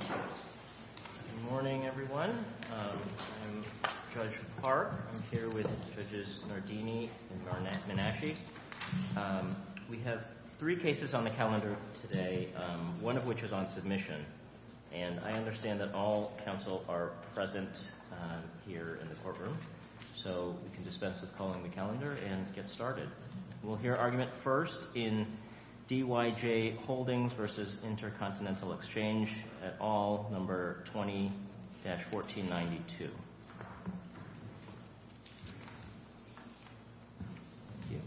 Good morning, everyone. I'm Judge Park. I'm here with Judges Nardini and Garnett Manasci. We have three cases on the calendar today, one of which is on submission. And I understand that all counsel are present here in the courtroom. So we can dispense with calling the calendar and get started. We'll hear argument first in D.Y.J. Holdings v. Intercontinental Exchange at all, No. 20-1492. Thank you. Okay,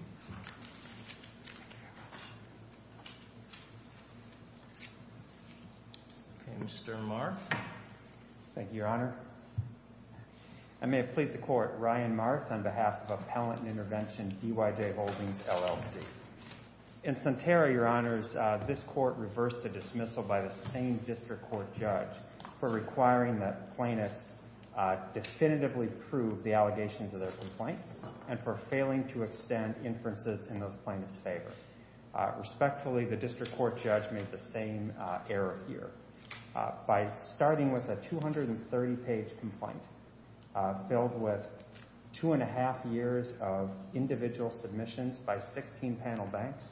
Mr. Marth. Thank you, Your Honor. I may have pleased the Court, Ryan Marth, on behalf of Appellant and Intervention, D.Y.J. Holdings, LLC. In Sentara, Your Honors, this Court reversed a dismissal by the same District Court Judge for requiring that plaintiffs definitively prove the allegations of their complaint and for failing to extend inferences in those plaintiffs' favor. Respectfully, the District Court Judge made the same error here. By starting with a 230-page complaint filled with two-and-a-half years of individual submissions by 16 panel banks,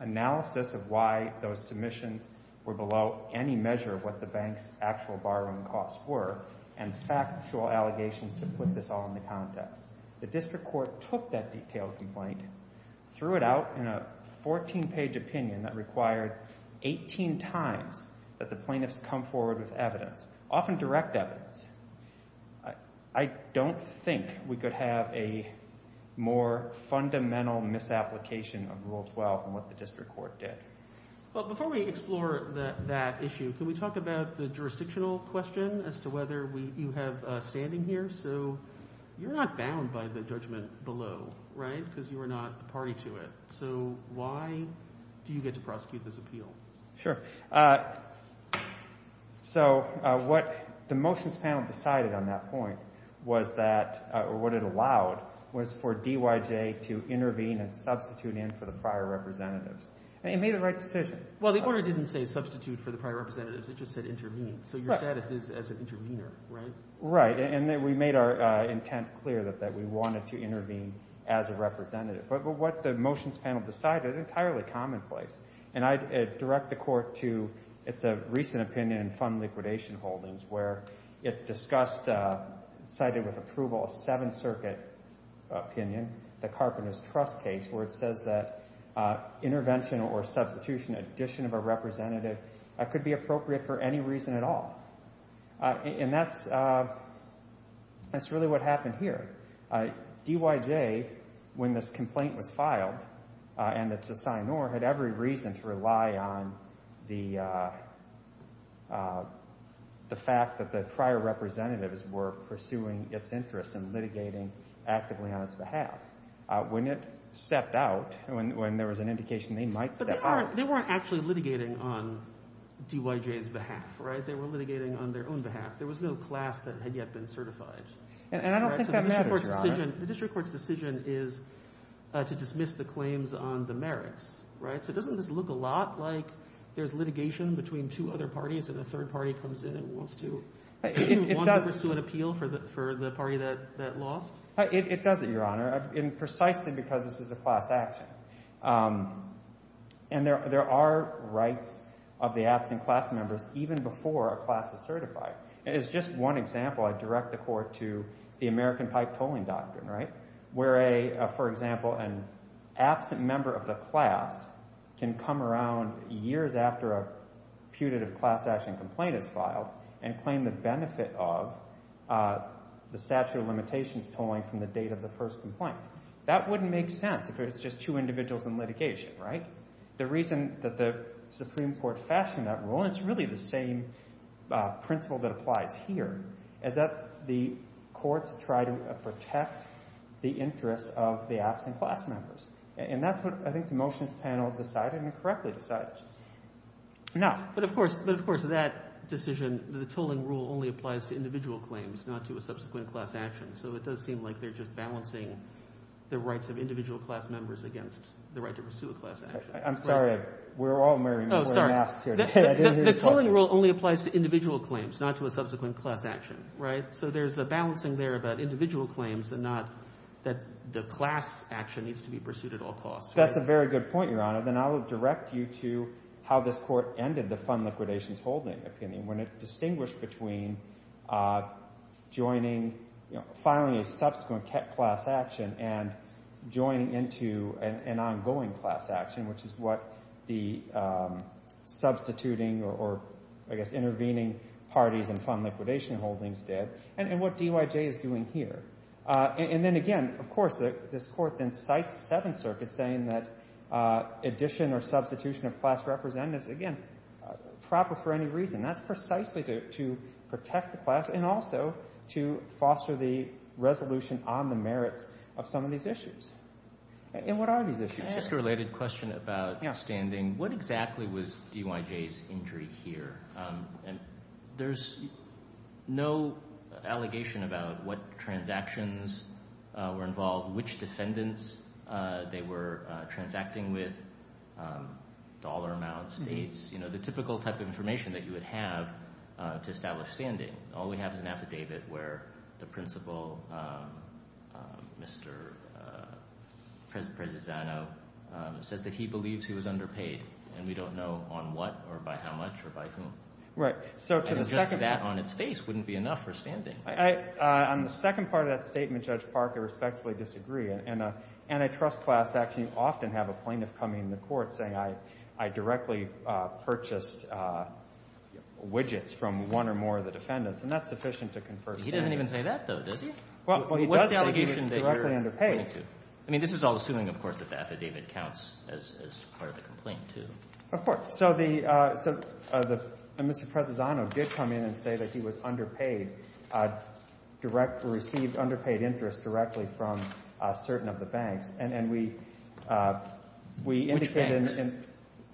analysis of why those submissions were below any measure of what the banks' actual borrowing costs were, and factual allegations to put this all into context. The District Court took that detailed complaint, threw it out in a 14-page opinion that required 18 times that the plaintiffs come forward with evidence, often direct evidence. I don't think we could have a more fundamental misapplication of Rule 12 than what the District Court did. Well, before we explore that issue, can we talk about the jurisdictional question as to whether you have standing here? So you're not bound by the judgment below, right, because you are not party to it. So why do you get to prosecute this appeal? Sure. So what the motions panel decided on that point was that, or what it allowed, was for DYJ to intervene and substitute in for the prior representatives. It made the right decision. Well, the order didn't say substitute for the prior representatives. It just said intervene. So your status is as an intervener, right? Right, and we made our intent clear that we wanted to intervene as a representative. But what the motions panel decided is entirely commonplace, and I direct the Court to its recent opinion in fund liquidation holdings where it discussed, cited with approval, a Seventh Circuit opinion, the Carpenter's Trust case, where it says that intervention or substitution, addition of a representative, could be appropriate for any reason at all. And that's really what happened here. DYJ, when this complaint was filed and it's assigned, had every reason to rely on the fact that the prior representatives were pursuing its interests and litigating actively on its behalf. When it stepped out, when there was an indication they might step out. But they weren't actually litigating on DYJ's behalf, right? They were litigating on their own behalf. There was no class that had yet been certified. And I don't think that matters, Your Honor. The district court's decision is to dismiss the claims on the merits, right? So doesn't this look a lot like there's litigation between two other parties and a third party comes in and wants to pursue an appeal for the party that lost? It doesn't, Your Honor, precisely because this is a class action. And there are rights of the absent class members even before a class is certified. As just one example, I direct the court to the American pipe tolling doctrine, right, where, for example, an absent member of the class can come around years after a putative class action complaint is filed and claim the benefit of the statute of limitations tolling from the date of the first complaint. That wouldn't make sense if it was just two individuals in litigation, right? The reason that the Supreme Court fashioned that rule, and it's really the same principle that applies here, is that the courts try to protect the interests of the absent class members. And that's what I think the motions panel decided and correctly decided. Now— But, of course, that decision, the tolling rule only applies to individual claims, not to a subsequent class action. So it does seem like they're just balancing the rights of individual class members against the right to pursue a class action. I'm sorry. We're all wearing masks here today. The tolling rule only applies to individual claims, not to a subsequent class action, right? So there's a balancing there about individual claims and not that the class action needs to be pursued at all costs. That's a very good point, Your Honor. Then I will direct you to how this court ended the fund liquidations holding opinion, when it distinguished between joining—filing a subsequent class action and joining into an ongoing class action, which is what the substituting or, I guess, intervening parties in fund liquidation holdings did, and what DYJ is doing here. And then, again, of course, this court then cites Seventh Circuit saying that addition or substitution of class representatives, again, proper for any reason. That's precisely to protect the class and also to foster the resolution on the merits of some of these issues. And what are these issues? Can I ask a related question about standing? Yeah. What exactly was DYJ's injury here? There's no allegation about what transactions were involved, which defendants they were transacting with, dollar amount, states, you know, the typical type of information that you would have to establish standing. All we have is an affidavit where the principal, Mr. Prezzisano, says that he believes he was underpaid, and we don't know on what or by how much or by whom. Right. And just that on its face wouldn't be enough for standing. On the second part of that statement, Judge Parker, I respectfully disagree. In an antitrust class action, you often have a plaintiff coming to court saying, I directly purchased widgets from one or more of the defendants. And that's sufficient to confer standing. He doesn't even say that, though, does he? Well, he does say he was directly underpaid. I mean, this is all assuming, of course, that the affidavit counts as part of the complaint, too. Of course. So Mr. Prezzisano did come in and say that he was underpaid, received underpaid interest directly from certain of the banks.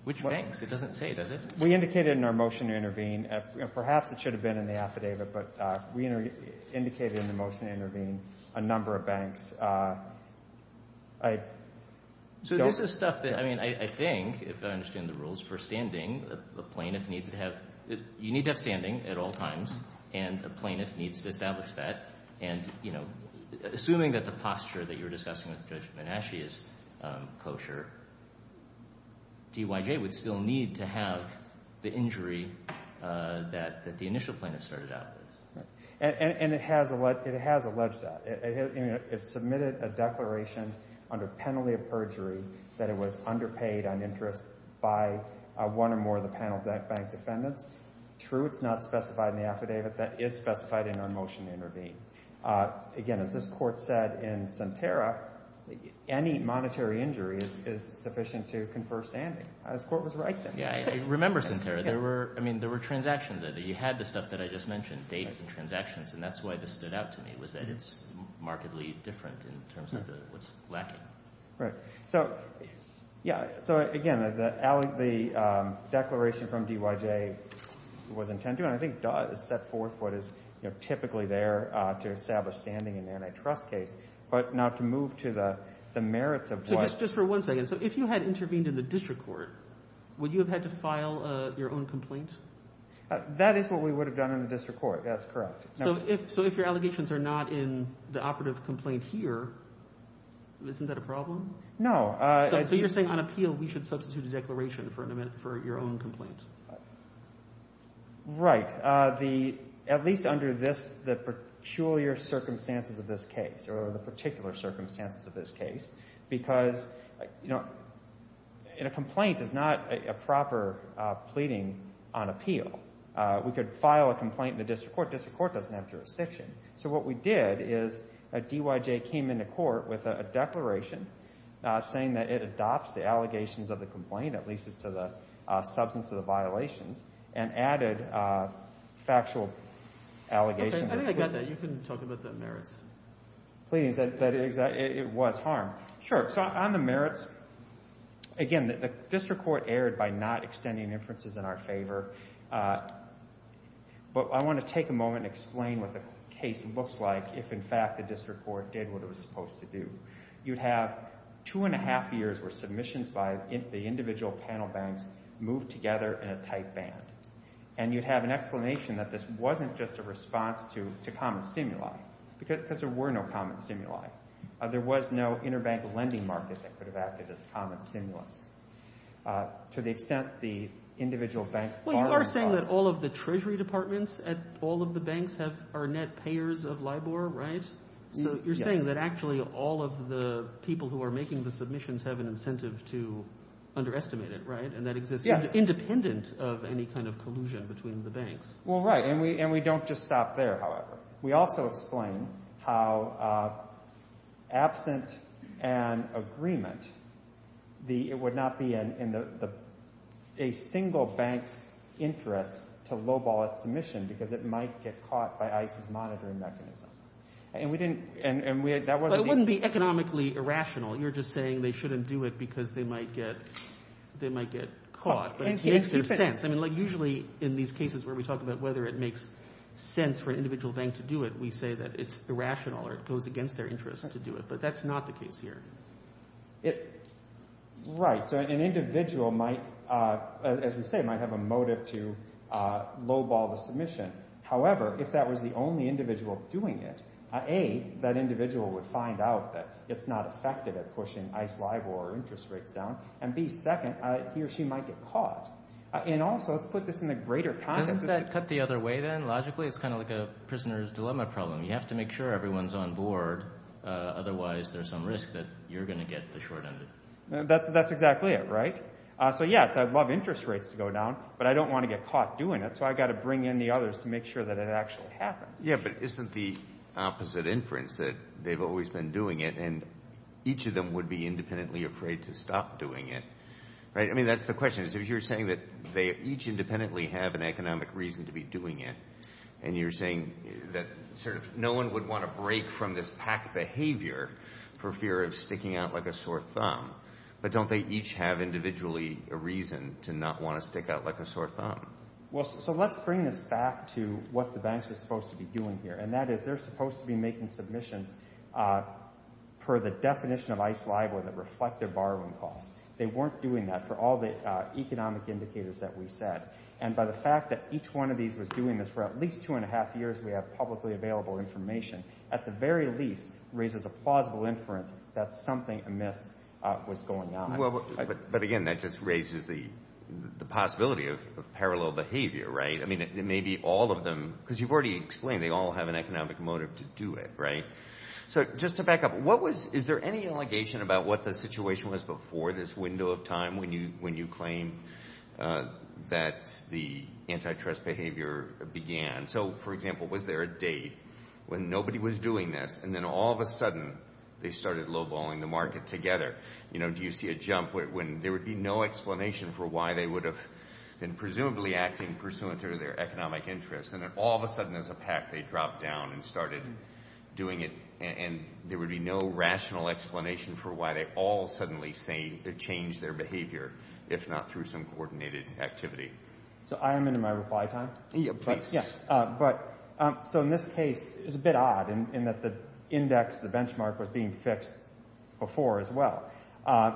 Which banks? It doesn't say, does it? We indicated in our motion to intervene, perhaps it should have been in the affidavit, but we indicated in the motion to intervene a number of banks. So this is stuff that, I mean, I think, if I understand the rules, for standing, a plaintiff needs to have standing at all times and a plaintiff needs to establish that. And, you know, assuming that the posture that you were discussing with Judge Menasche is kosher, DYJ would still need to have the injury that the initial plaintiff started out with. And it has alleged that. It submitted a declaration under penalty of perjury that it was underpaid on interest by one or more of the panel bank defendants. True, it's not specified in the affidavit. That is specified in our motion to intervene. Again, as this court said in Sentara, any monetary injury is sufficient to confer standing. This court was right then. Yeah, I remember Sentara. There were, I mean, there were transactions there. You had the stuff that I just mentioned, dates and transactions, and that's why this stood out to me was that it's markedly different in terms of what's lacking. Right. So, yeah, so, again, the declaration from DYJ was intended, and I think does set forth what is typically there to establish standing in an antitrust case, but not to move to the merits of what. Just for one second. So if you had intervened in the district court, would you have had to file your own complaint? That is what we would have done in the district court. That's correct. So if your allegations are not in the operative complaint here, isn't that a problem? No. So you're saying on appeal we should substitute a declaration for your own complaint? Right. At least under the peculiar circumstances of this case, or the particular circumstances of this case, because, you know, a complaint is not a proper pleading on appeal. We could file a complaint in the district court. District court doesn't have jurisdiction. So what we did is a DYJ came into court with a declaration saying that it adopts the allegations of the complaint, at least as to the substance of the violations, and added factual allegations. I think I got that. You can talk about the merits. Pleadings. It was harm. Sure. So on the merits, again, the district court erred by not extending inferences in our favor. But I want to take a moment and explain what the case looks like if, in fact, the district court did what it was supposed to do. You'd have two and a half years worth of submissions by the individual panel banks moved together in a tight band. And you'd have an explanation that this wasn't just a response to common stimuli, because there were no common stimuli. There was no interbank lending market that could have acted as common stimulus. To the extent the individual banks are responsible. Well, you are saying that all of the treasury departments at all of the banks are net payers of LIBOR, right? Yes. You are saying that actually all of the people who are making the submissions have an incentive to underestimate it, right, and that exists independent of any kind of collusion between the banks. Well, right. And we don't just stop there, however. We also explain how absent an agreement, it would not be in a single bank's interest to lowball its submission because it might get caught by ICE's monitoring mechanism. But it wouldn't be economically irrational. You're just saying they shouldn't do it because they might get caught. But it makes no sense. Usually in these cases where we talk about whether it makes sense for an individual bank to do it, we say that it's irrational or it goes against their interest to do it. But that's not the case here. Right. So an individual might, as we say, might have a motive to lowball the submission. However, if that was the only individual doing it, A, that individual would find out that it's not effective at pushing ICE LIBOR interest rates down, and B, second, he or she might get caught. And also, let's put this in a greater context. Doesn't that cut the other way then, logically? It's kind of like a prisoner's dilemma problem. You have to make sure everyone's on board, otherwise there's some risk that you're going to get the short end of it. That's exactly it, right? So, yes, I'd love interest rates to go down, but I don't want to get caught doing it, so I've got to bring in the others to make sure that it actually happens. Yeah, but isn't the opposite inference that they've always been doing it and each of them would be independently afraid to stop doing it, right? I mean, that's the question, is if you're saying that they each independently have an economic reason to be doing it and you're saying that sort of no one would want to break from this PAC behavior for fear of sticking out like a sore thumb, but don't they each have individually a reason to not want to stick out like a sore thumb? Well, so let's bring this back to what the banks were supposed to be doing here, and that is they're supposed to be making submissions per the definition of ICE LIBOR that reflect their borrowing costs. They weren't doing that for all the economic indicators that we said, and by the fact that each one of these was doing this for at least two and a half years, we have publicly available information, at the very least, raises a plausible inference that something amiss was going on. But, again, that just raises the possibility of parallel behavior, right? I mean, it may be all of them, because you've already explained they all have an economic motive to do it, right? So just to back up, is there any allegation about what the situation was before this window of time when you claim that the antitrust behavior began? So, for example, was there a date when nobody was doing this and then all of a sudden they started lowballing the market together? You know, do you see a jump when there would be no explanation for why they would have been presumably acting pursuant to their economic interests, and then all of a sudden as a pack they dropped down and started doing it and there would be no rational explanation for why they all suddenly changed their behavior, if not through some coordinated activity? So I am into my reply time. Yeah, please. So in this case, it's a bit odd in that the index, the benchmark, was being fixed before as well.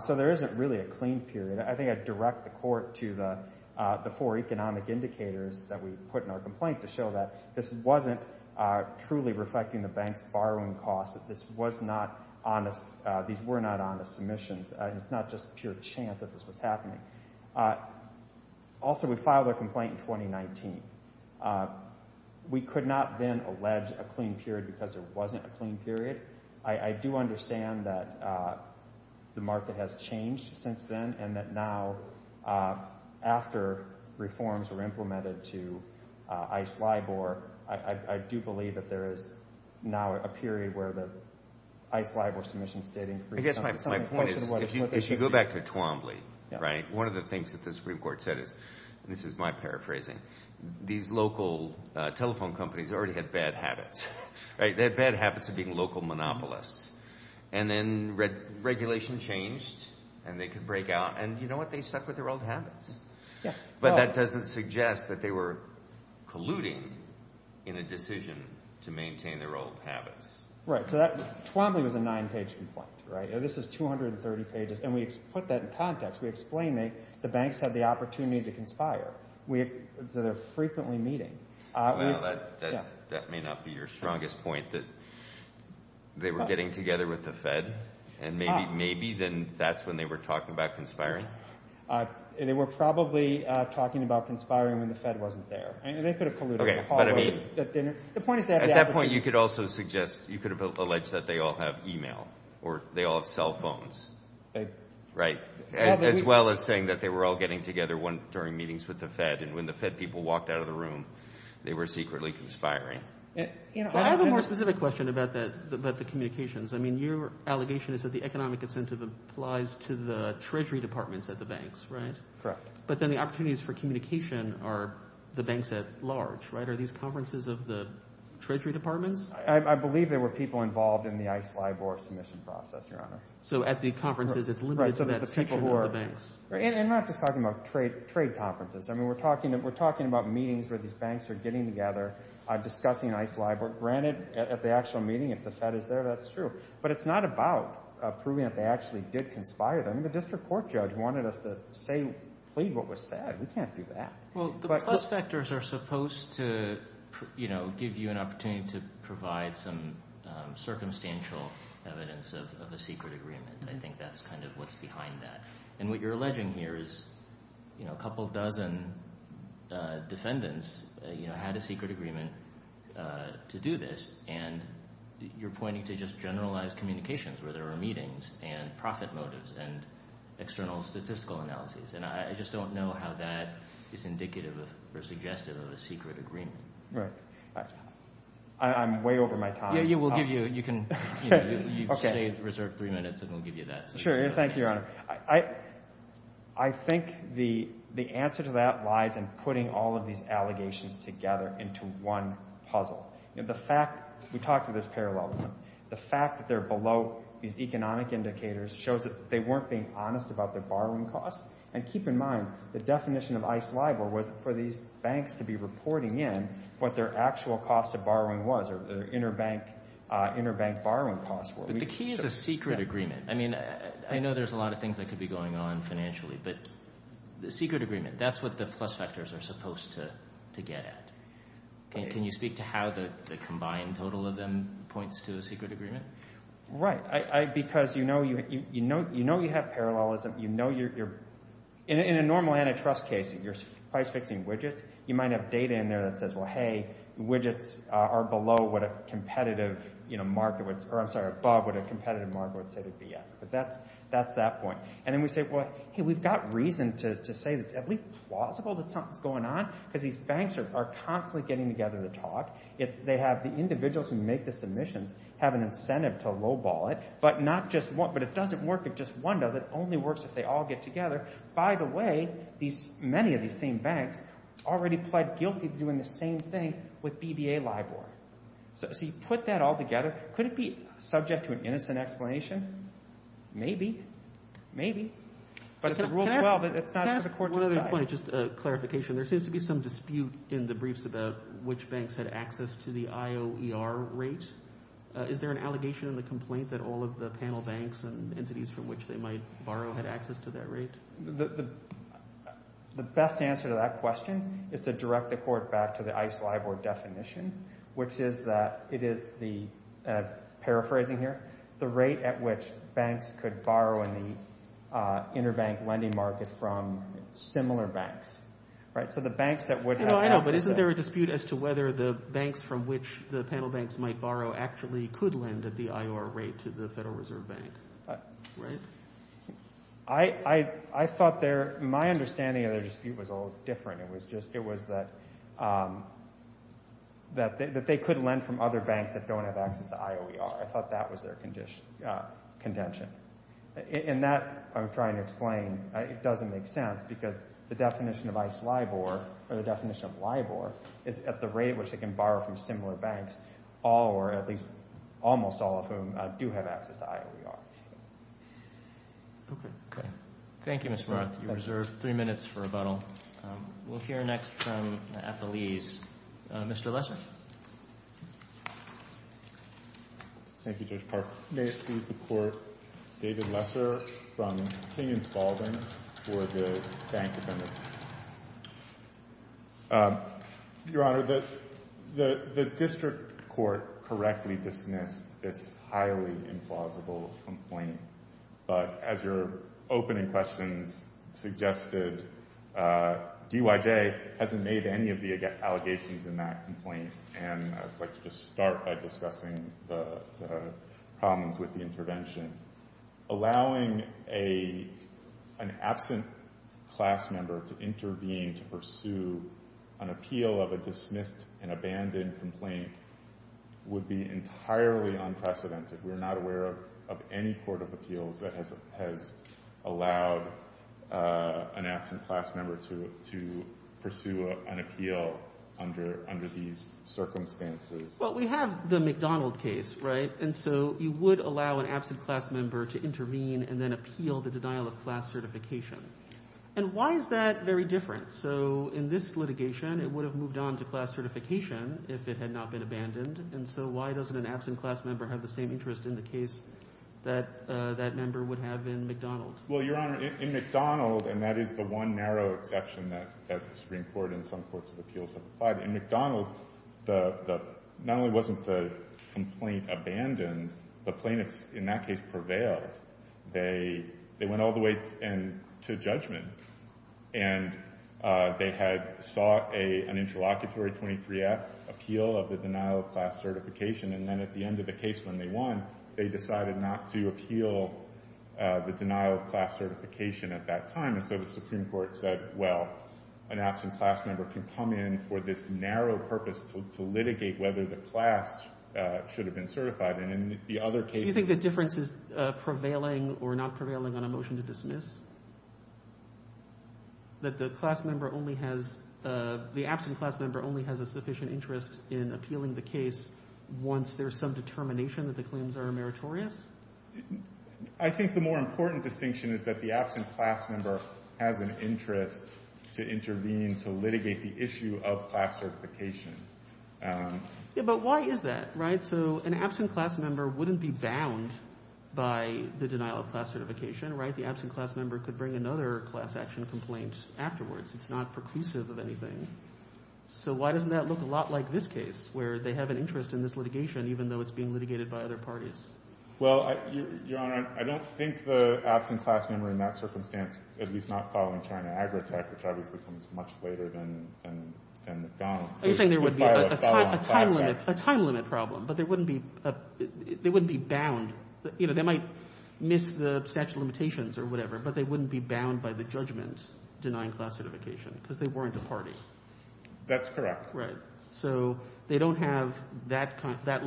So there isn't really a clean period. I think I'd direct the court to the four economic indicators that we put in our complaint to show that this wasn't truly reflecting the bank's borrowing costs, that this was not honest, these were not honest submissions. It's not just pure chance that this was happening. Also, we filed our complaint in 2019. We could not then allege a clean period because there wasn't a clean period. I do understand that the market has changed since then and that now after reforms were implemented to ICE LIBOR, I do believe that there is now a period where the ICE LIBOR submissions did increase. I guess my point is if you go back to Twombly, one of the things that the Supreme Court said is, and this is my paraphrasing, these local telephone companies already had bad habits. They had bad habits of being local monopolists. And then regulation changed and they could break out, and you know what, they stuck with their old habits. But that doesn't suggest that they were colluding in a decision to maintain their old habits. Right, so Twombly was a nine-page complaint. This is 230 pages, and we put that in context. We explained that the banks had the opportunity to conspire. So they're frequently meeting. That may not be your strongest point, that they were getting together with the Fed and maybe then that's when they were talking about conspiring. They were probably talking about conspiring when the Fed wasn't there. They could have colluded. Okay, but I mean at that point you could also suggest you could have alleged that they all have e-mail or they all have cell phones, right, as well as saying that they were all getting together during meetings with the Fed. And when the Fed people walked out of the room, they were secretly conspiring. I have a more specific question about the communications. I mean your allegation is that the economic incentive applies to the treasury departments at the banks, right? Correct. But then the opportunities for communication are the banks at large, right? Are these conferences of the treasury departments? I believe there were people involved in the ICE LIBOR submission process, Your Honor. So at the conferences it's limited to that section of the banks. And not just talking about trade conferences. I mean we're talking about meetings where these banks are getting together discussing ICE LIBOR. Granted, at the actual meeting if the Fed is there, that's true. But it's not about proving that they actually did conspire. I mean the district court judge wanted us to plead what was said. We can't do that. Well, the plus factors are supposed to give you an opportunity to provide some circumstantial evidence of a secret agreement. I think that's kind of what's behind that. And what you're alleging here is a couple dozen defendants had a secret agreement to do this, and you're pointing to just generalized communications where there were meetings and profit motives and external statistical analyses. And I just don't know how that is indicative or suggestive of a secret agreement. Right. I'm way over my time. Yeah, we'll give you – you can save a reserved three minutes and we'll give you that. Sure. Thank you, Your Honor. I think the answer to that lies in putting all of these allegations together into one puzzle. The fact – we talked about this parallelism. The fact that they're below these economic indicators shows that they weren't being honest about their borrowing costs. And keep in mind the definition of ICE LIBOR was for these banks to be reporting in what their actual cost of borrowing was, or their interbank borrowing costs were. But the key is a secret agreement. I mean I know there's a lot of things that could be going on financially, but the secret agreement, that's what the plus factors are supposed to get at. Can you speak to how the combined total of them points to a secret agreement? Right. Because you know you have parallelism. You know you're – in a normal antitrust case, you're price-fixing widgets. You might have data in there that says, well, hey, widgets are below what a competitive market would – or I'm sorry, above what a competitive market would say they'd be at. But that's that point. And then we say, well, hey, we've got reason to say that it's at least plausible that something's going on because these banks are constantly getting together to talk. It's – they have – the individuals who make the submissions have an incentive to lowball it, but not just one. But it doesn't work if just one does it. It only works if they all get together. By the way, these – many of these same banks already pled guilty to doing the same thing with BBA LIBOR. So you put that all together. Could it be subject to an innocent explanation? Maybe. Maybe. But if the rule 12 – Can I ask one other point, just a clarification? There seems to be some dispute in the briefs about which banks had access to the IOER rate. Is there an allegation in the complaint that all of the panel banks and entities from which they might borrow had access to that rate? The best answer to that question is to direct the court back to the ICE LIBOR definition, which is that it is the – paraphrasing here – the rate at which banks could borrow in the interbank lending market from similar banks. So the banks that would have access to – I know, but isn't there a dispute as to whether the banks from which the panel banks might borrow actually could lend at the IOER rate to the Federal Reserve Bank? I thought their – my understanding of their dispute was a little different. It was just – it was that they could lend from other banks that don't have access to IOER. I thought that was their contention. And that, I'm trying to explain, it doesn't make sense because the definition of ICE LIBOR or the definition of LIBOR is at the rate at which they can borrow from similar banks, all or at least almost all of whom do have access to IOER. Okay. Thank you, Mr. Roth. You reserve three minutes for rebuttal. We'll hear next from the FLE's Mr. Lesser. Thank you, Judge Park. May it please the Court, David Lesser from King & Spaulding for the bank defendants. Your Honor, the district court correctly dismissed this highly implausible complaint. But as your opening questions suggested, DYJ hasn't made any of the allegations in that complaint, and I'd like to just start by discussing the problems with the intervention. Allowing an absent class member to intervene to pursue an appeal of a dismissed and abandoned complaint would be entirely unprecedented. We're not aware of any court of appeals that has allowed an absent class member to pursue an appeal under these circumstances. Well, we have the McDonald case, right? And so you would allow an absent class member to intervene and then appeal the denial of class certification. And why is that very different? So in this litigation, it would have moved on to class certification if it had not been abandoned. And so why doesn't an absent class member have the same interest in the case that that member would have in McDonald? Well, Your Honor, in McDonald, and that is the one narrow exception that the Supreme Court and some courts of appeals have applied, in McDonald, not only wasn't the complaint abandoned, the plaintiffs in that case prevailed. They went all the way to judgment, and they had sought an interlocutory 23-F appeal of the denial of class certification. And then at the end of the case when they won, they decided not to appeal the denial of class certification at that time. And so the Supreme Court said, well, an absent class member can come in for this narrow purpose to litigate whether the class should have been certified. And in the other case— prevailing or not prevailing on a motion to dismiss? That the class member only has—the absent class member only has a sufficient interest in appealing the case once there's some determination that the claims are meritorious? I think the more important distinction is that the absent class member has an interest to intervene to litigate the issue of class certification. But why is that, right? So an absent class member wouldn't be bound by the denial of class certification, right? The absent class member could bring another class action complaint afterwards. It's not preclusive of anything. So why doesn't that look a lot like this case, where they have an interest in this litigation even though it's being litigated by other parties? Well, Your Honor, I don't think the absent class member in that circumstance, at least not following China Agrotech, which obviously comes much later than McDonald— You're saying there would be a time limit problem, but they wouldn't be bound. They might miss the statute of limitations or whatever, but they wouldn't be bound by the judgment denying class certification because they weren't a party. That's correct. Right. So they don't have that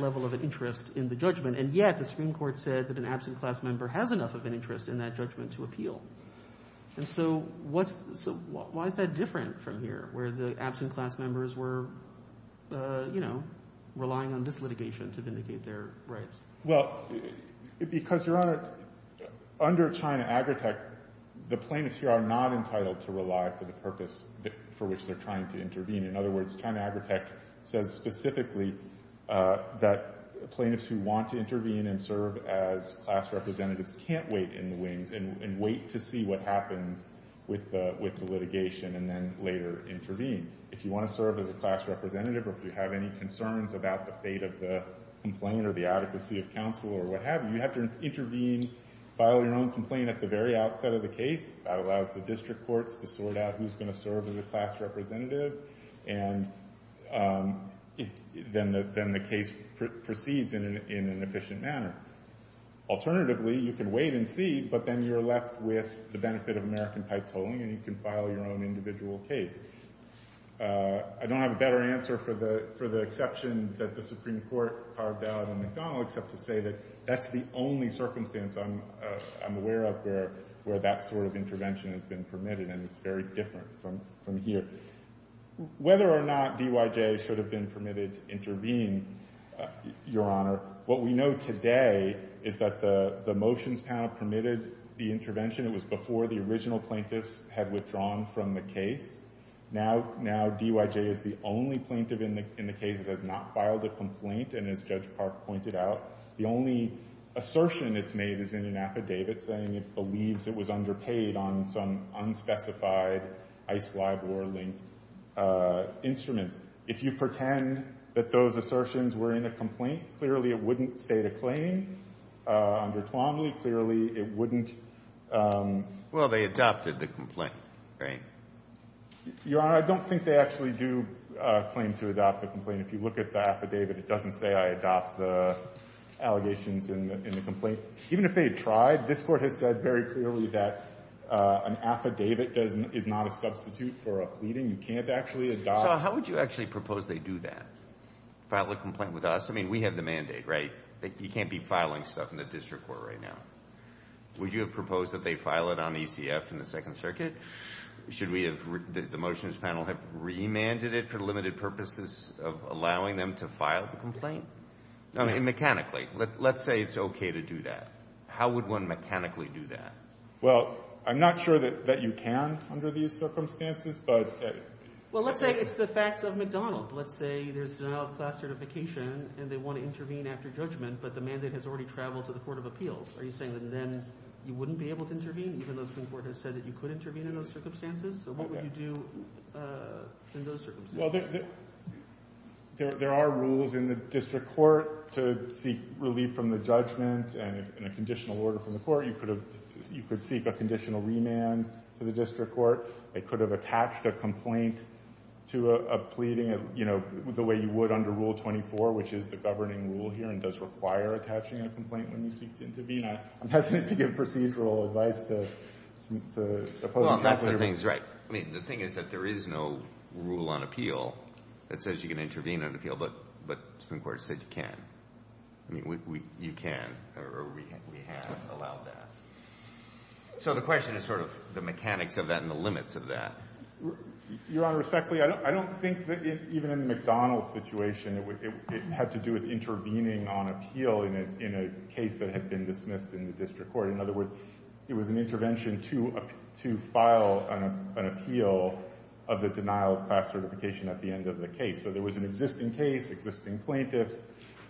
level of an interest in the judgment, and yet the Supreme Court said that an absent class member has enough of an interest in that judgment to appeal. And so why is that different from here, where the absent class members were relying on this litigation to vindicate their rights? Well, because, Your Honor, under China Agrotech, the plaintiffs here are not entitled to rely for the purpose for which they're trying to intervene. In other words, China Agrotech says specifically that plaintiffs who want to intervene and serve as class representatives can't wait in the wings and wait to see what happens with the litigation and then later intervene. If you want to serve as a class representative or if you have any concerns about the fate of the complaint or the adequacy of counsel or what have you, you have to intervene, file your own complaint at the very outset of the case. That allows the district courts to sort out who's going to serve as a class representative, and then the case proceeds in an efficient manner. Alternatively, you can wait and see, but then you're left with the benefit of American pipe tolling and you can file your own individual case. I don't have a better answer for the exception that the Supreme Court carved out in McDonald except to say that that's the only circumstance I'm aware of where that sort of intervention has been permitted, and it's very different from here. Whether or not DYJ should have been permitted to intervene, Your Honor, what we know today is that the motions panel permitted the intervention. It was before the original plaintiffs had withdrawn from the case. Now DYJ is the only plaintiff in the case that has not filed a complaint, and as Judge Park pointed out, the only assertion it's made is in an affidavit saying it believes it was underpaid on some unspecified ICE-LIBOR-linked instruments. If you pretend that those assertions were in a complaint, clearly it wouldn't state a claim. Under Twombly, clearly it wouldn't. Well, they adopted the complaint, right? Your Honor, I don't think they actually do claim to adopt the complaint. If you look at the affidavit, it doesn't say I adopt the allegations in the complaint. Even if they tried, this Court has said very clearly that an affidavit is not a substitute for a pleading. You can't actually adopt. So how would you actually propose they do that, file a complaint with us? I mean, we have the mandate, right? You can't be filing stuff in the district court right now. Would you have proposed that they file it on ECF in the Second Circuit? Should we have the motions panel have remanded it for the limited purposes of allowing them to file the complaint? I mean, mechanically. Let's say it's okay to do that. How would one mechanically do that? Well, I'm not sure that you can under these circumstances, but Well, let's say it's the facts of McDonald. Let's say there's denial of class certification and they want to intervene after judgment, but the mandate has already traveled to the court of appeals. Are you saying that then you wouldn't be able to intervene, even though the Supreme Court has said that you could intervene in those circumstances? So what would you do in those circumstances? Well, there are rules in the district court to seek relief from the judgment and a conditional order from the court. You could seek a conditional remand to the district court. They could have attached a complaint to a pleading, you know, the way you would under Rule 24, which is the governing rule here and does require attaching a complaint when you seek to intervene. I'm hesitant to give procedural advice to opposing counsel. Well, that's the thing. I mean, the thing is that there is no rule on appeal that says you can intervene on appeal, but the Supreme Court said you can. I mean, you can, or we have allowed that. So the question is sort of the mechanics of that and the limits of that. Your Honor, respectfully, I don't think that even in the McDonald situation, it had to do with intervening on appeal in a case that had been dismissed in the district court. In other words, it was an intervention to file an appeal of the denial of class certification at the end of the case. So there was an existing case, existing plaintiffs.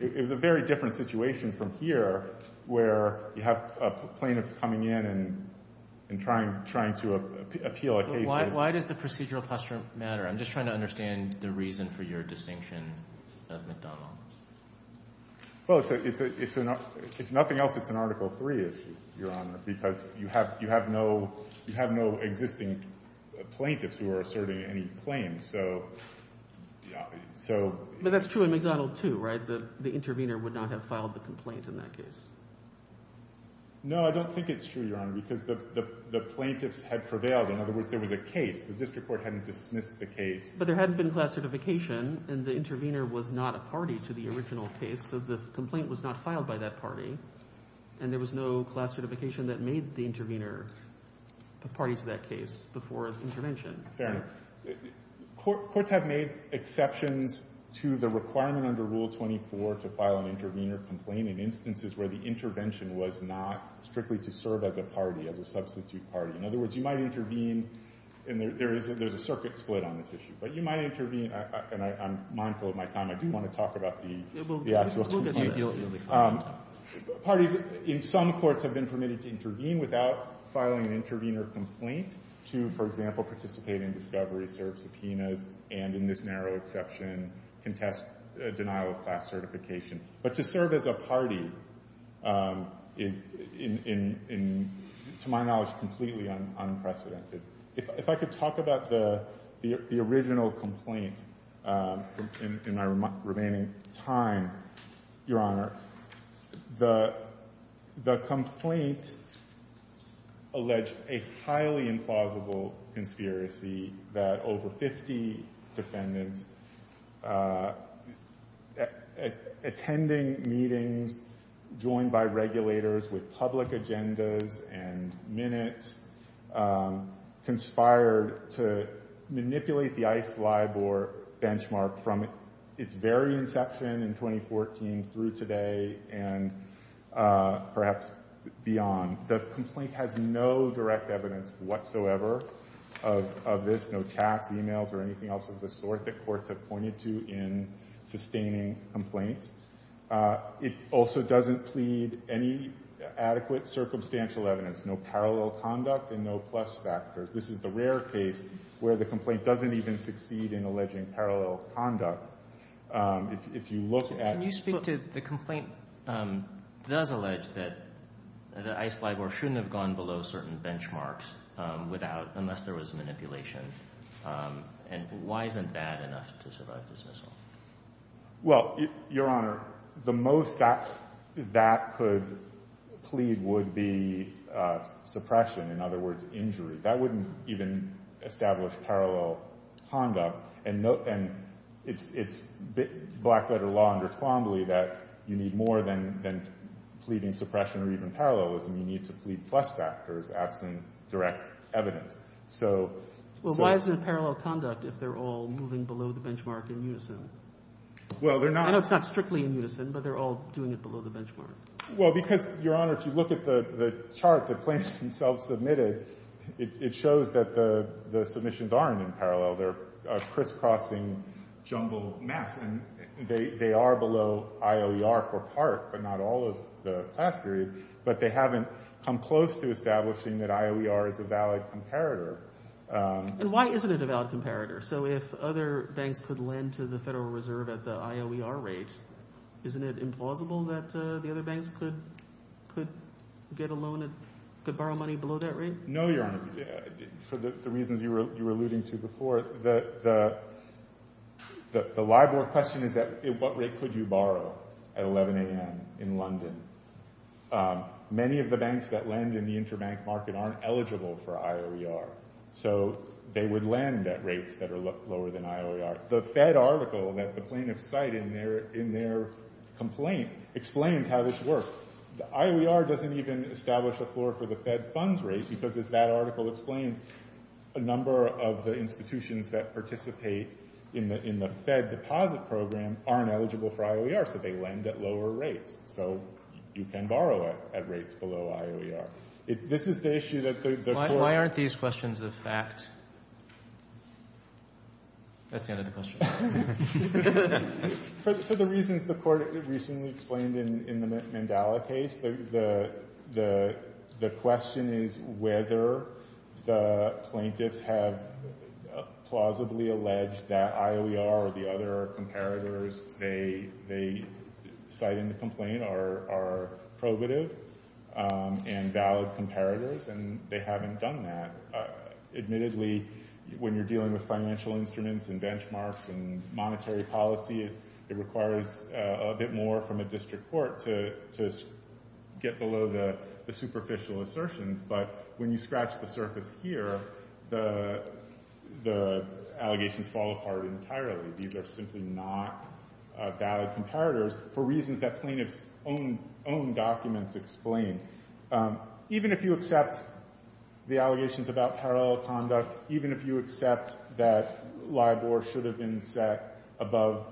It was a very different situation from here where you have plaintiffs coming in and trying to appeal a case. Why does the procedural posture matter? I'm just trying to understand the reason for your distinction of McDonald. Well, if nothing else, it's an Article III issue, Your Honor, because you have no existing plaintiffs who are asserting any claims. But that's true in McDonald too, right? The intervener would not have filed the complaint in that case. No, I don't think it's true, Your Honor, because the plaintiffs had prevailed. In other words, there was a case. The district court hadn't dismissed the case. But there hadn't been class certification, and the intervener was not a party to the original case, so the complaint was not filed by that party, and there was no class certification that made the intervener a party to that case before intervention. Fair enough. Courts have made exceptions to the requirement under Rule 24 to file an intervener complaint in instances where the intervention was not strictly to serve as a party, as a substitute party. In other words, you might intervene, and there's a circuit split on this issue, but you might intervene, and I'm mindful of my time. I do want to talk about the actual complaint. Parties in some courts have been permitted to intervene without filing an intervener complaint to, for example, participate in discovery, serve subpoenas, and in this narrow exception, contest denial of class certification. But to serve as a party is, to my knowledge, completely unprecedented. If I could talk about the original complaint in my remaining time, Your Honor. The complaint alleged a highly implausible conspiracy that over 50 defendants attending meetings joined by regulators with public agendas and minutes conspired to manipulate the ICE LIBOR benchmark from its very inception in 2014 through today and perhaps beyond. The complaint has no direct evidence whatsoever of this, no chats, e-mails, or anything else of the sort that courts have pointed to in sustaining complaints. It also doesn't plead any adequate circumstantial evidence, no parallel conduct, and no plus factors. This is the rare case where the complaint doesn't even succeed in alleging parallel conduct. If you look at the court. Roberts. Can you speak to the complaint that does allege that ICE LIBOR shouldn't have gone below certain benchmarks without, unless there was manipulation? And why isn't that enough to survive dismissal? Well, Your Honor, the most that that could plead would be suppression, in other words, injury. That wouldn't even establish parallel conduct. And it's black-letter law under Twombly that you need more than pleading suppression or even parallelism. You need to plead plus factors absent direct evidence. Well, why isn't it parallel conduct if they're all moving below the benchmark in unison? Well, they're not. I know it's not strictly in unison, but they're all doing it below the benchmark. Well, because, Your Honor, if you look at the chart the plaintiffs themselves submitted, it shows that the submissions aren't in parallel. They're crisscrossing jumble mess. And they are below IOER for part, but not all of the class period. But they haven't come close to establishing that IOER is a valid comparator. And why isn't it a valid comparator? So if other banks could lend to the Federal Reserve at the IOER rate, isn't it implausible that the other banks could get a loan and could borrow money below that rate? No, Your Honor. For the reasons you were alluding to before, the LIBOR question is at what rate could you borrow at 11 a.m. in London. Many of the banks that lend in the interbank market aren't eligible for IOER. So they would lend at rates that are lower than IOER. The Fed article that the plaintiffs cite in their complaint explains how this works. The IOER doesn't even establish a floor for the Fed funds rate because, as that article explains, a number of the institutions that participate in the Fed deposit program aren't eligible for IOER. So they lend at lower rates. So you can borrow at rates below IOER. This is the issue that the court— Why aren't these questions a fact? That's the end of the question. For the reasons the court recently explained in the Mandela case, the question is whether the plaintiffs have plausibly alleged that IOER or the other comparators they cite in the complaint are probative and valid comparators, and they haven't done that. Admittedly, when you're dealing with financial instruments and benchmarks and monetary policy, it requires a bit more from a district court to get below the superficial assertions. But when you scratch the surface here, the allegations fall apart entirely. These are simply not valid comparators for reasons that plaintiffs' own documents explain. Even if you accept the allegations about parallel conduct, even if you accept that LIBOR should have been set above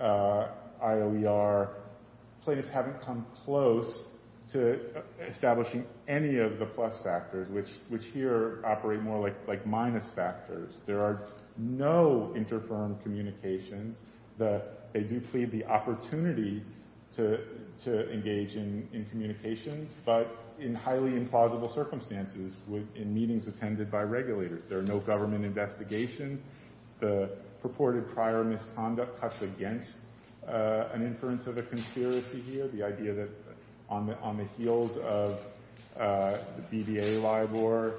IOER, plaintiffs haven't come close to establishing any of the plus factors, which here operate more like minus factors. There are no interfirm communications. They do plead the opportunity to engage in communications, but in highly implausible circumstances, in meetings attended by regulators. There are no government investigations. The purported prior misconduct cuts against an inference of a conspiracy here, the idea that on the heels of the BBA LIBOR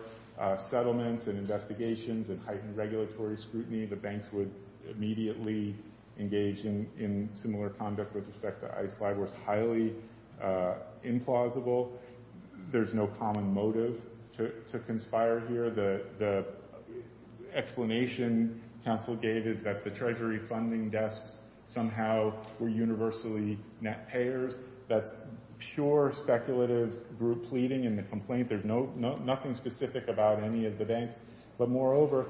settlements and investigations and heightened regulatory scrutiny, the banks would immediately engage in similar conduct with respect to ICE LIBOR is highly implausible. There's no common motive to conspire here. The explanation counsel gave is that the Treasury funding desks somehow were universally net payers. That's pure speculative group pleading in the complaint. There's nothing specific about any of the banks. But moreover,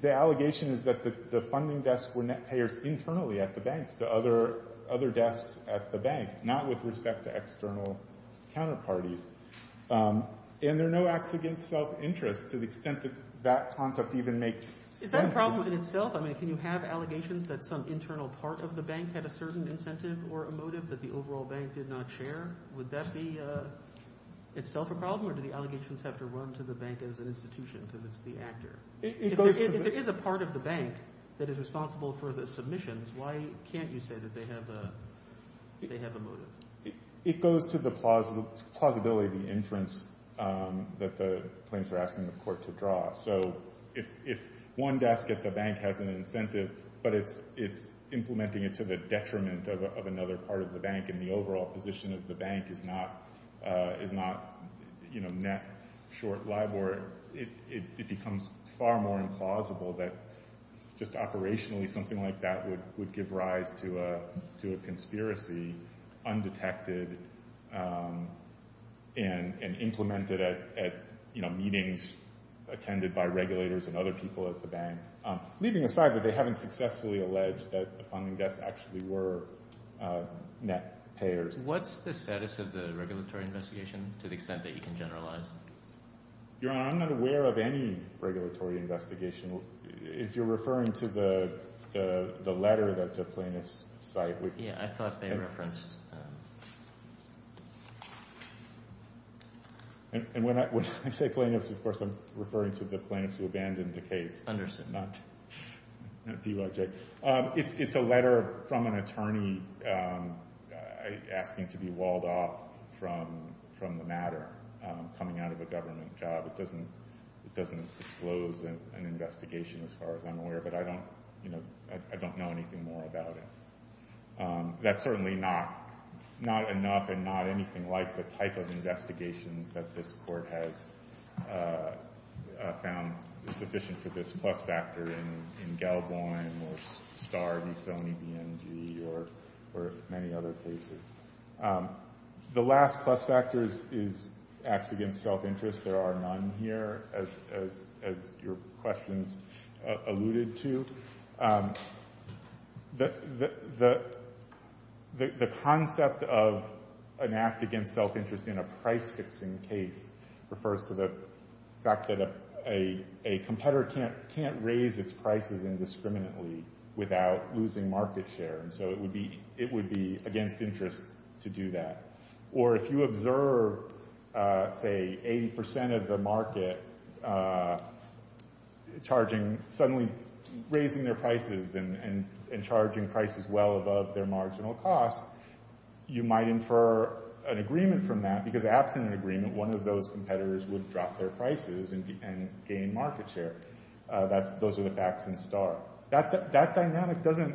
the allegation is that the funding desks were net payers internally at the banks, to other desks at the bank, not with respect to external counterparties. And there are no acts against self-interest to the extent that that concept even makes sense. Is that a problem in itself? I mean, can you have allegations that some internal part of the bank had a certain incentive or a motive that the overall bank did not share? Would that be itself a problem, or do the allegations have to run to the bank as an institution because it's the actor? If there is a part of the bank that is responsible for the submissions, why can't you say that they have a motive? It goes to the plausibility inference that the claims are asking the court to draw. So if one desk at the bank has an incentive, but it's implementing it to the detriment of another part of the bank and the overall position of the bank is not net short liable, it becomes far more implausible that just operationally something like that would give rise to a conspiracy undetected and implemented at meetings attended by regulators and other people at the bank. Leaving aside that they haven't successfully alleged that the funding desk actually were net payers. What's the status of the regulatory investigation to the extent that you can generalize? Your Honor, I'm not aware of any regulatory investigation. If you're referring to the letter that the plaintiffs cite. Yeah, I thought they referenced. And when I say plaintiffs, of course, I'm referring to the plaintiffs who abandoned the case. Understood. It's a letter from an attorney asking to be walled off from the matter coming out of a government job. It doesn't disclose an investigation as far as I'm aware, but I don't know anything more about it. That's certainly not enough and not anything like the type of investigations that this court has found sufficient for this plus factor in Gell-Bohm or Starr v. Sony BNG or many other cases. The last plus factor is acts against self-interest. There are none here, as your questions alluded to. The concept of an act against self-interest in a price-fixing case refers to the fact that a competitor can't raise its prices indiscriminately without losing market share, and so it would be against interest to do that. Or if you observe, say, 80% of the market suddenly raising their prices and charging prices well above their marginal cost, you might infer an agreement from that, because absent an agreement, one of those competitors would drop their prices and gain market share. Those are the facts in Starr. That dynamic doesn't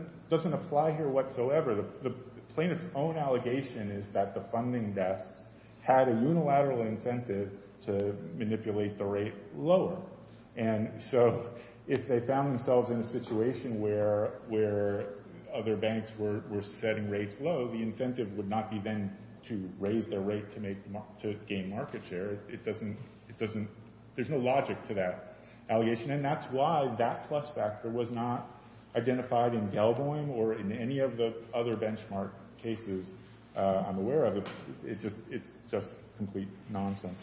apply here whatsoever. The plaintiff's own allegation is that the funding desks had a unilateral incentive to manipulate the rate lower, and so if they found themselves in a situation where other banks were setting rates low, the incentive would not be then to raise their rate to gain market share. There's no logic to that allegation, and that's why that plus factor was not identified in Gelboim or in any of the other benchmark cases I'm aware of. It's just complete nonsense.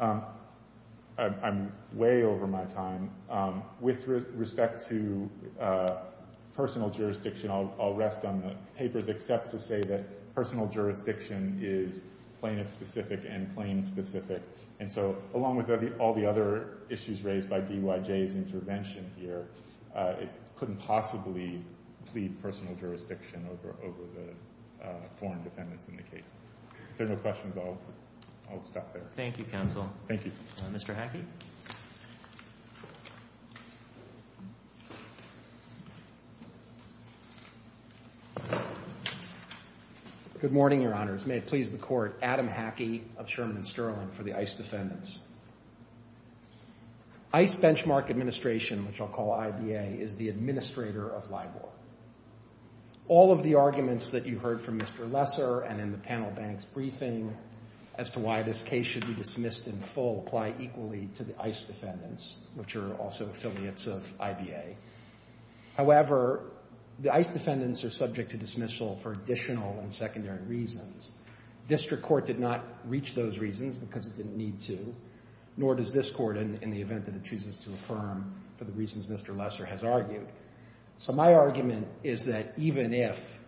I'm way over my time. With respect to personal jurisdiction, I'll rest on the papers, except to say that personal jurisdiction is plaintiff-specific and claim-specific, and so along with all the other issues raised by DYJ's intervention here, it couldn't possibly plead personal jurisdiction over the foreign defendants in the case. If there are no questions, I'll stop there. Thank you, counsel. Thank you. Mr. Hackey? Good morning, Your Honors. May it please the Court, Adam Hackey of Sherman & Sterling for the ICE defendants. ICE benchmark administration, which I'll call IBA, is the administrator of LIBOR. All of the arguments that you heard from Mr. Lesser and in the panel bank's briefing as to why this case should be dismissed in full apply equally to the ICE defendants, which are also affiliates of IBA. However, the ICE defendants are subject to dismissal for additional and secondary reasons. District Court did not reach those reasons because it didn't need to, nor does this Court in the event that it chooses to affirm for the reasons Mr. Lesser has argued. So my argument is that even if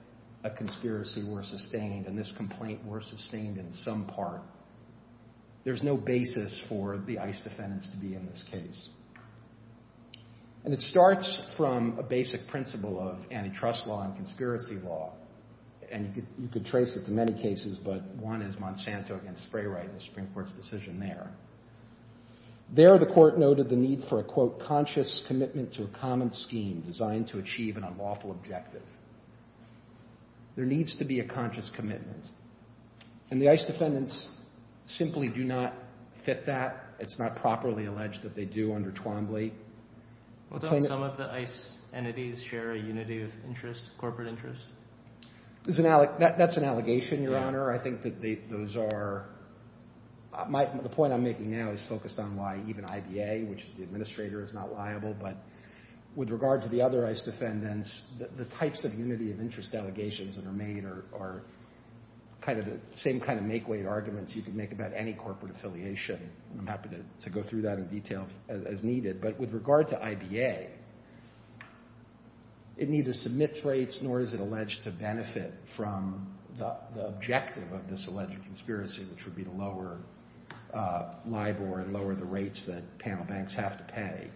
a conspiracy were sustained and this complaint were sustained in some part, there's no basis for the ICE defendants to be in this case. And it starts from a basic principle of antitrust law and conspiracy law, and you could trace it to many cases, but one is Monsanto against Sprayright in the Supreme Court's decision there. There, the Court noted the need for a, quote, conscious commitment to a common scheme designed to achieve an unlawful objective. There needs to be a conscious commitment, and the ICE defendants simply do not fit that. It's not properly alleged that they do under Twombly. Well, don't some of the ICE entities share a unity of interest, corporate interest? That's an allegation, Your Honor. I think that those are—the point I'm making now is focused on why even IBA, which is the administrator, is not liable. But with regard to the other ICE defendants, the types of unity of interest allegations that are made are kind of the same kind of make-weight arguments you can make about any corporate affiliation. I'm happy to go through that in detail as needed. But with regard to IBA, it neither submits rates nor is it alleged to benefit from the objective of this alleged conspiracy, which would be to lower LIBOR and lower the rates that panel banks have to pay.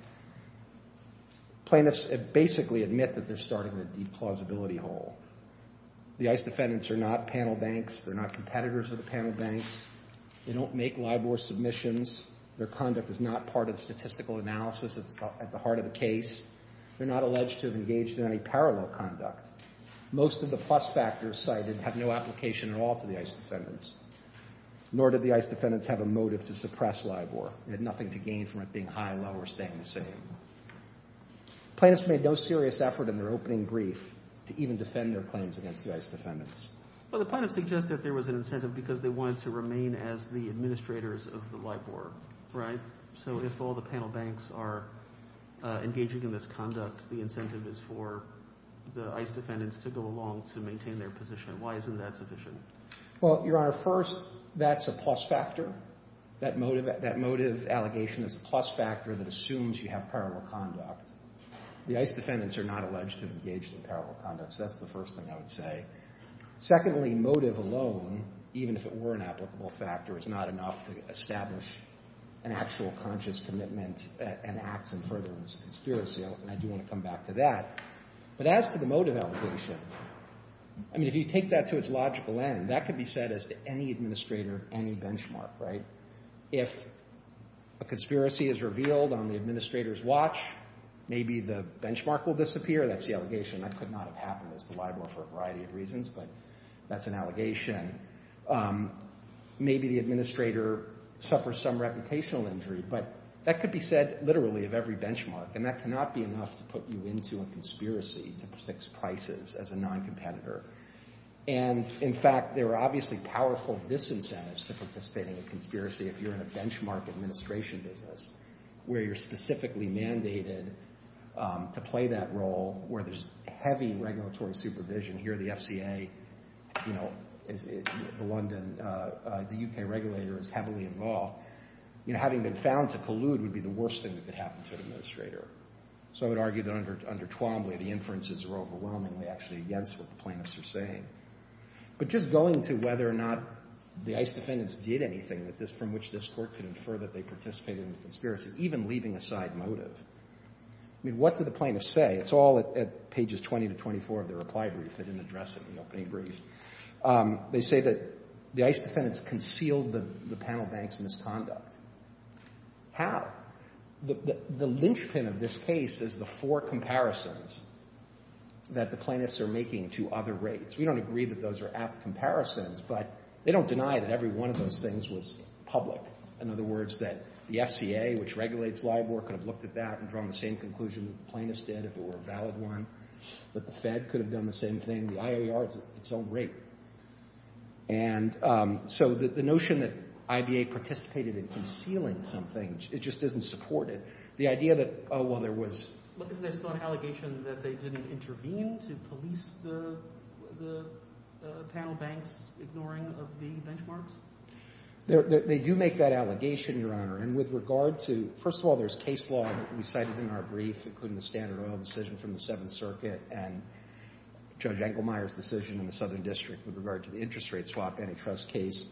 Plaintiffs basically admit that they're starting a deep plausibility hole. The ICE defendants are not panel banks. They're not competitors of the panel banks. They don't make LIBOR submissions. Their conduct is not part of the statistical analysis that's at the heart of the case. They're not alleged to have engaged in any parallel conduct. Most of the plus factors cited have no application at all to the ICE defendants, nor did the ICE defendants have a motive to suppress LIBOR. They had nothing to gain from it being high, low, or staying the same. Plaintiffs made no serious effort in their opening brief to even defend their claims against the ICE defendants. Well, the plaintiffs suggested there was an incentive because they wanted to remain as the administrators of the LIBOR, right? So if all the panel banks are engaging in this conduct, the incentive is for the ICE defendants to go along to maintain their position. Why isn't that sufficient? Well, Your Honor, first, that's a plus factor. That motive allegation is a plus factor that assumes you have parallel conduct. The ICE defendants are not alleged to have engaged in parallel conduct. That's the first thing I would say. Secondly, motive alone, even if it were an applicable factor, is not enough to establish an actual conscious commitment and acts in furtherance of conspiracy. And I do want to come back to that. But as to the motive allegation, I mean, if you take that to its logical end, that could be said as to any administrator of any benchmark, right? If a conspiracy is revealed on the administrator's watch, maybe the benchmark will disappear. That's the allegation. That could not have happened as to LIBOR for a variety of reasons, but that's an allegation. Again, maybe the administrator suffers some reputational injury, but that could be said literally of every benchmark, and that cannot be enough to put you into a conspiracy to fix prices as a non-competitor. And, in fact, there are obviously powerful disincentives to participate in a conspiracy if you're in a benchmark administration business where you're specifically mandated to play that role, where there's heavy regulatory supervision. Here the FCA, you know, London, the U.K. regulator is heavily involved. You know, having been found to collude would be the worst thing that could happen to an administrator. So I would argue that under Twombly the inferences are overwhelmingly actually against what the plaintiffs are saying. But just going to whether or not the ICE defendants did anything from which this court could infer that they participated in a conspiracy, even leaving aside motive, I mean, what do the plaintiffs say? It's all at pages 20 to 24 of their reply brief. They didn't address it in the opening brief. They say that the ICE defendants concealed the panel bank's misconduct. How? The linchpin of this case is the four comparisons that the plaintiffs are making to other rates. We don't agree that those are apt comparisons, but they don't deny that every one of those things was public. In other words, that the FCA, which regulates LIBOR, could have looked at that and drawn the same conclusion that the plaintiffs did if it were a valid one. But the Fed could have done the same thing. The IAR is its own rate. And so the notion that IBA participated in concealing something, it just doesn't support it. The idea that, oh, well, there was... But isn't there still an allegation that they didn't intervene to police the panel bank's ignoring of the benchmarks? They do make that allegation, Your Honor. And with regard to... First of all, there's case law that we cited in our brief, including the Standard Oil decision from the Seventh Circuit and Judge Engelmeyer's decision in the Southern District with regard to the interest rate swap antitrust case.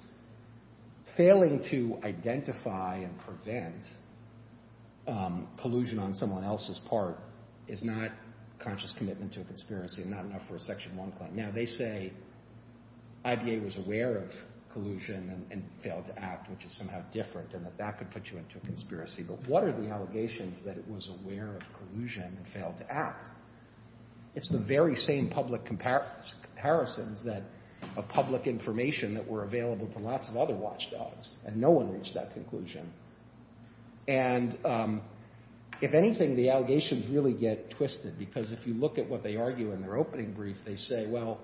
Failing to identify and prevent collusion on someone else's part is not conscious commitment to a conspiracy and not enough for a Section 1 claim. Now, they say IBA was aware of collusion and failed to act, which is somehow different, and that that could put you into a conspiracy. But what are the allegations that it was aware of collusion and failed to act? It's the very same public comparisons of public information that were available to lots of other watchdogs, and no one reached that conclusion. And if anything, the allegations really get twisted because if you look at what they argue in their opening brief, they say, well,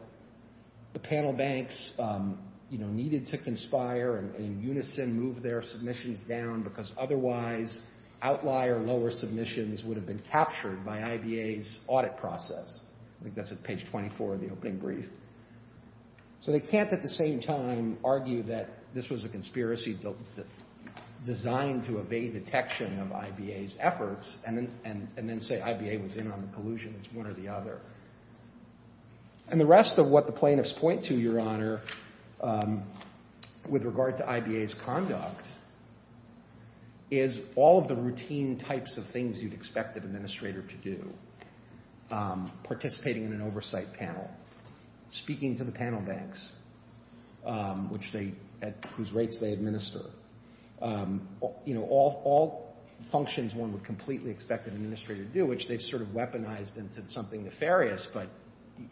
the panel banks needed to conspire and in unison move their submissions down because otherwise outlier lower submissions would have been captured by IBA's audit process. I think that's at page 24 of the opening brief. So they can't at the same time argue that this was a conspiracy designed to evade detection of IBA's efforts and then say IBA was in on the collusion. It's one or the other. And the rest of what the plaintiffs point to, Your Honor, with regard to IBA's conduct is all of the routine types of things you'd expect an administrator to do. Participating in an oversight panel, speaking to the panel banks at whose rates they administer. You know, all functions one would completely expect an administrator to do, which they've sort of weaponized into something nefarious, but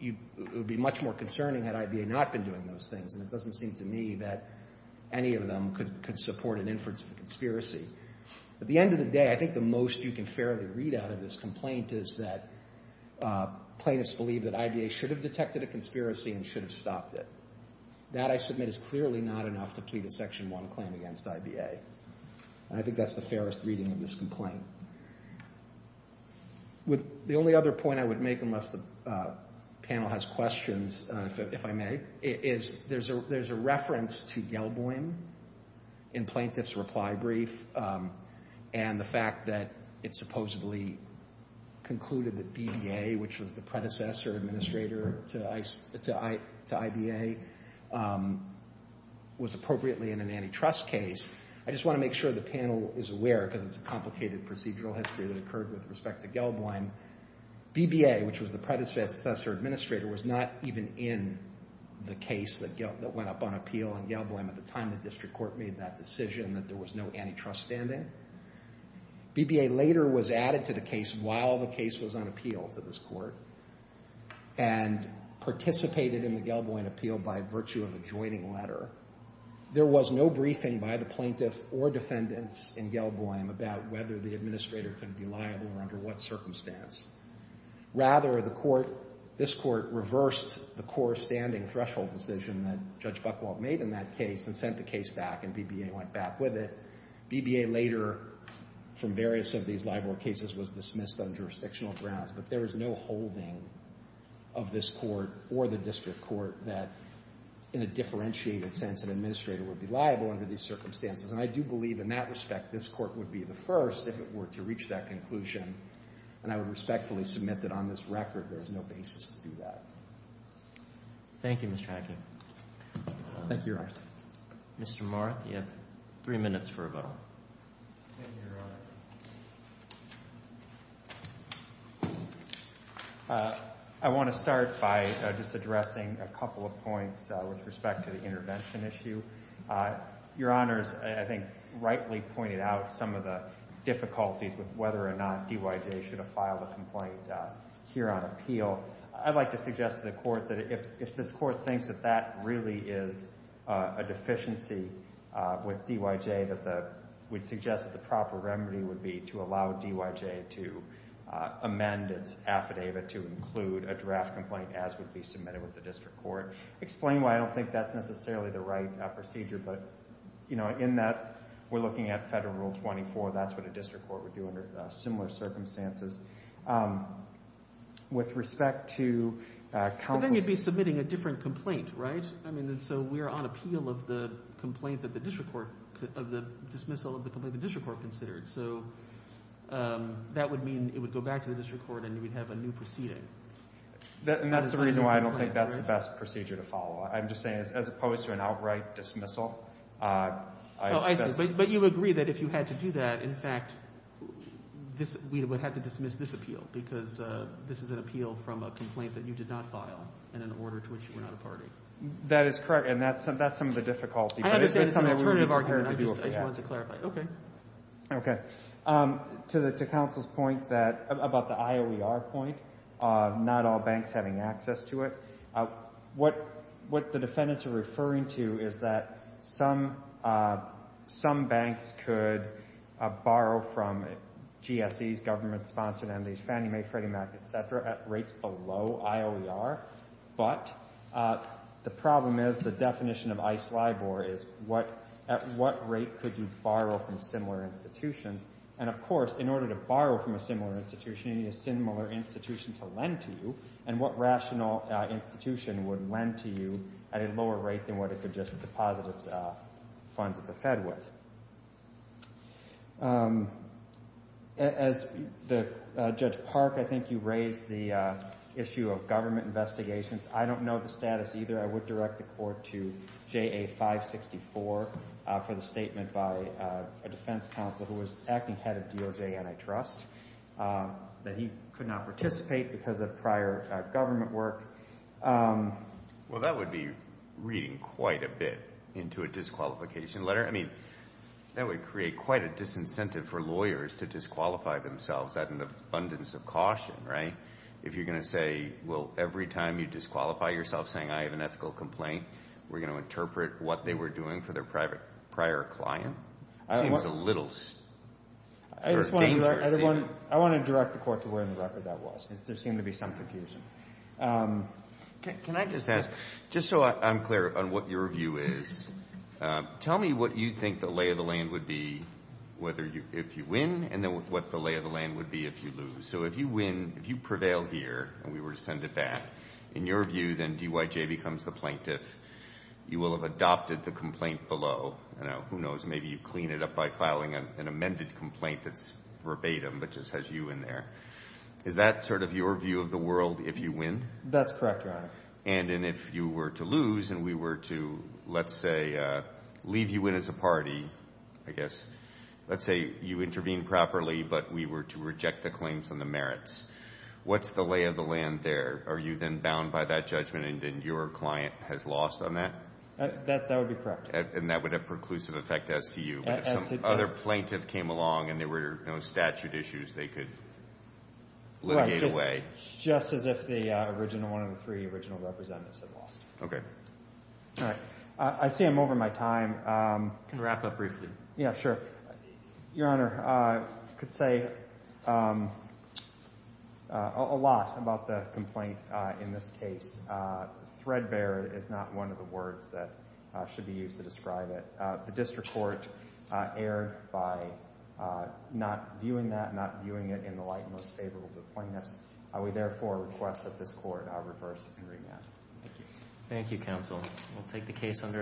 it would be much more concerning had IBA not been doing those things. And it doesn't seem to me that any of them could support an inference of a conspiracy. At the end of the day, I think the most you can fairly read out of this complaint is that plaintiffs believe that IBA should have detected a conspiracy and should have stopped it. That, I submit, is clearly not enough to plead a Section 1 claim against IBA. And I think that's the fairest reading of this complaint. The only other point I would make, unless the panel has questions, if I may, is there's a reference to Gelboim in plaintiffs' reply brief and the fact that it supposedly concluded that BBA, which was the predecessor administrator to IBA, was appropriately in an antitrust case. I just want to make sure the panel is aware, because it's a complicated procedural history that occurred with respect to Gelboim. BBA, which was the predecessor administrator, was not even in the case that went up on appeal in Gelboim. At the time, the district court made that decision that there was no antitrust standing. BBA later was added to the case while the case was on appeal to this court and participated in the Gelboim appeal by virtue of a joining letter. There was no briefing by the plaintiff or defendants in Gelboim about whether the administrator could be liable or under what circumstance. Rather, this court reversed the core standing threshold decision that Judge Buchwald made in that case and sent the case back, and BBA went back with it. BBA later, from various of these libel cases, was dismissed on jurisdictional grounds. But there is no holding of this court or the district court that, in a differentiated sense, an administrator would be liable under these circumstances. And I do believe in that respect this court would be the first, if it were to reach that conclusion, and I would respectfully submit that on this record there is no basis to do that. Thank you, Your Honor. Mr. Marth, you have three minutes for rebuttal. Thank you, Your Honor. I want to start by just addressing a couple of points with respect to the intervention issue. Your Honor has, I think, rightly pointed out some of the difficulties with whether or not DYJ should have filed a complaint here on appeal. I'd like to suggest to the court that if this court thinks that that really is a deficiency with DYJ, we'd suggest that the proper remedy would be to allow DYJ to amend its affidavit to include a draft complaint as would be submitted with the district court. Explain why I don't think that's necessarily the right procedure, but in that we're looking at Federal Rule 24, that's what a district court would do under similar circumstances. With respect to counsel— But then you'd be submitting a different complaint, right? I mean, so we're on appeal of the complaint that the district court— of the dismissal of the complaint the district court considered. So that would mean it would go back to the district court and you would have a new proceeding. And that's the reason why I don't think that's the best procedure to follow. I'm just saying as opposed to an outright dismissal— Oh, I see. But you agree that if you had to do that, in fact, we would have to dismiss this appeal because this is an appeal from a complaint that you did not file in an order to which you were not a party. That is correct, and that's some of the difficulty. I understand it's an alternative argument. I just wanted to clarify. Okay. To counsel's point about the IOER point, not all banks having access to it, what the defendants are referring to is that some banks could borrow from GSEs, government-sponsored entities, Fannie Mae, Freddie Mac, et cetera, at rates below IOER. But the problem is the definition of ICE LIBOR is at what rate could you borrow from similar institutions? And, of course, in order to borrow from a similar institution, you need a similar institution to lend to you. And what rational institution would lend to you at a lower rate than what it could just deposit its funds at the Fed with? As Judge Park, I think you raised the issue of government investigations. I don't know the status either. I would direct the Court to JA564 for the statement by a defense counsel who was acting head of DOJ Antitrust that he could not participate because of prior government work. Well, that would be reading quite a bit into a disqualification letter. I mean, that would create quite a disincentive for lawyers to disqualify themselves. That's an abundance of caution, right? If you're going to say, well, every time you disqualify yourself saying I have an ethical complaint, we're going to interpret what they were doing for their prior client? It seems a little dangerous. I want to direct the Court to where in the record that was because there seemed to be some confusion. Can I just ask, just so I'm clear on what your view is, tell me what you think the lay of the land would be if you win and then what the lay of the land would be if you lose. So if you win, if you prevail here and we were to send it back, in your view then DYJ becomes the plaintiff. You will have adopted the complaint below. Who knows, maybe you clean it up by filing an amended complaint that's verbatim but just has you in there. Is that sort of your view of the world if you win? That's correct, Your Honor. And if you were to lose and we were to, let's say, leave you in as a party, I guess, let's say you intervene properly but we were to reject the claims and the merits, what's the lay of the land there? Are you then bound by that judgment and then your client has lost on that? That would be correct. And that would have preclusive effect as to you. If some other plaintiff came along and there were no statute issues, they could litigate away. Just as if the original one of the three original representatives had lost. Okay. All right. I see I'm over my time. Can we wrap up briefly? Yeah, sure. Your Honor, I could say a lot about the complaint in this case. Threadbare is not one of the words that should be used to describe it. The district court erred by not viewing that, not viewing it in the light most favorable to the plaintiffs. We therefore request that this court reverse and remand. Thank you, counsel. We'll take the case under advisement.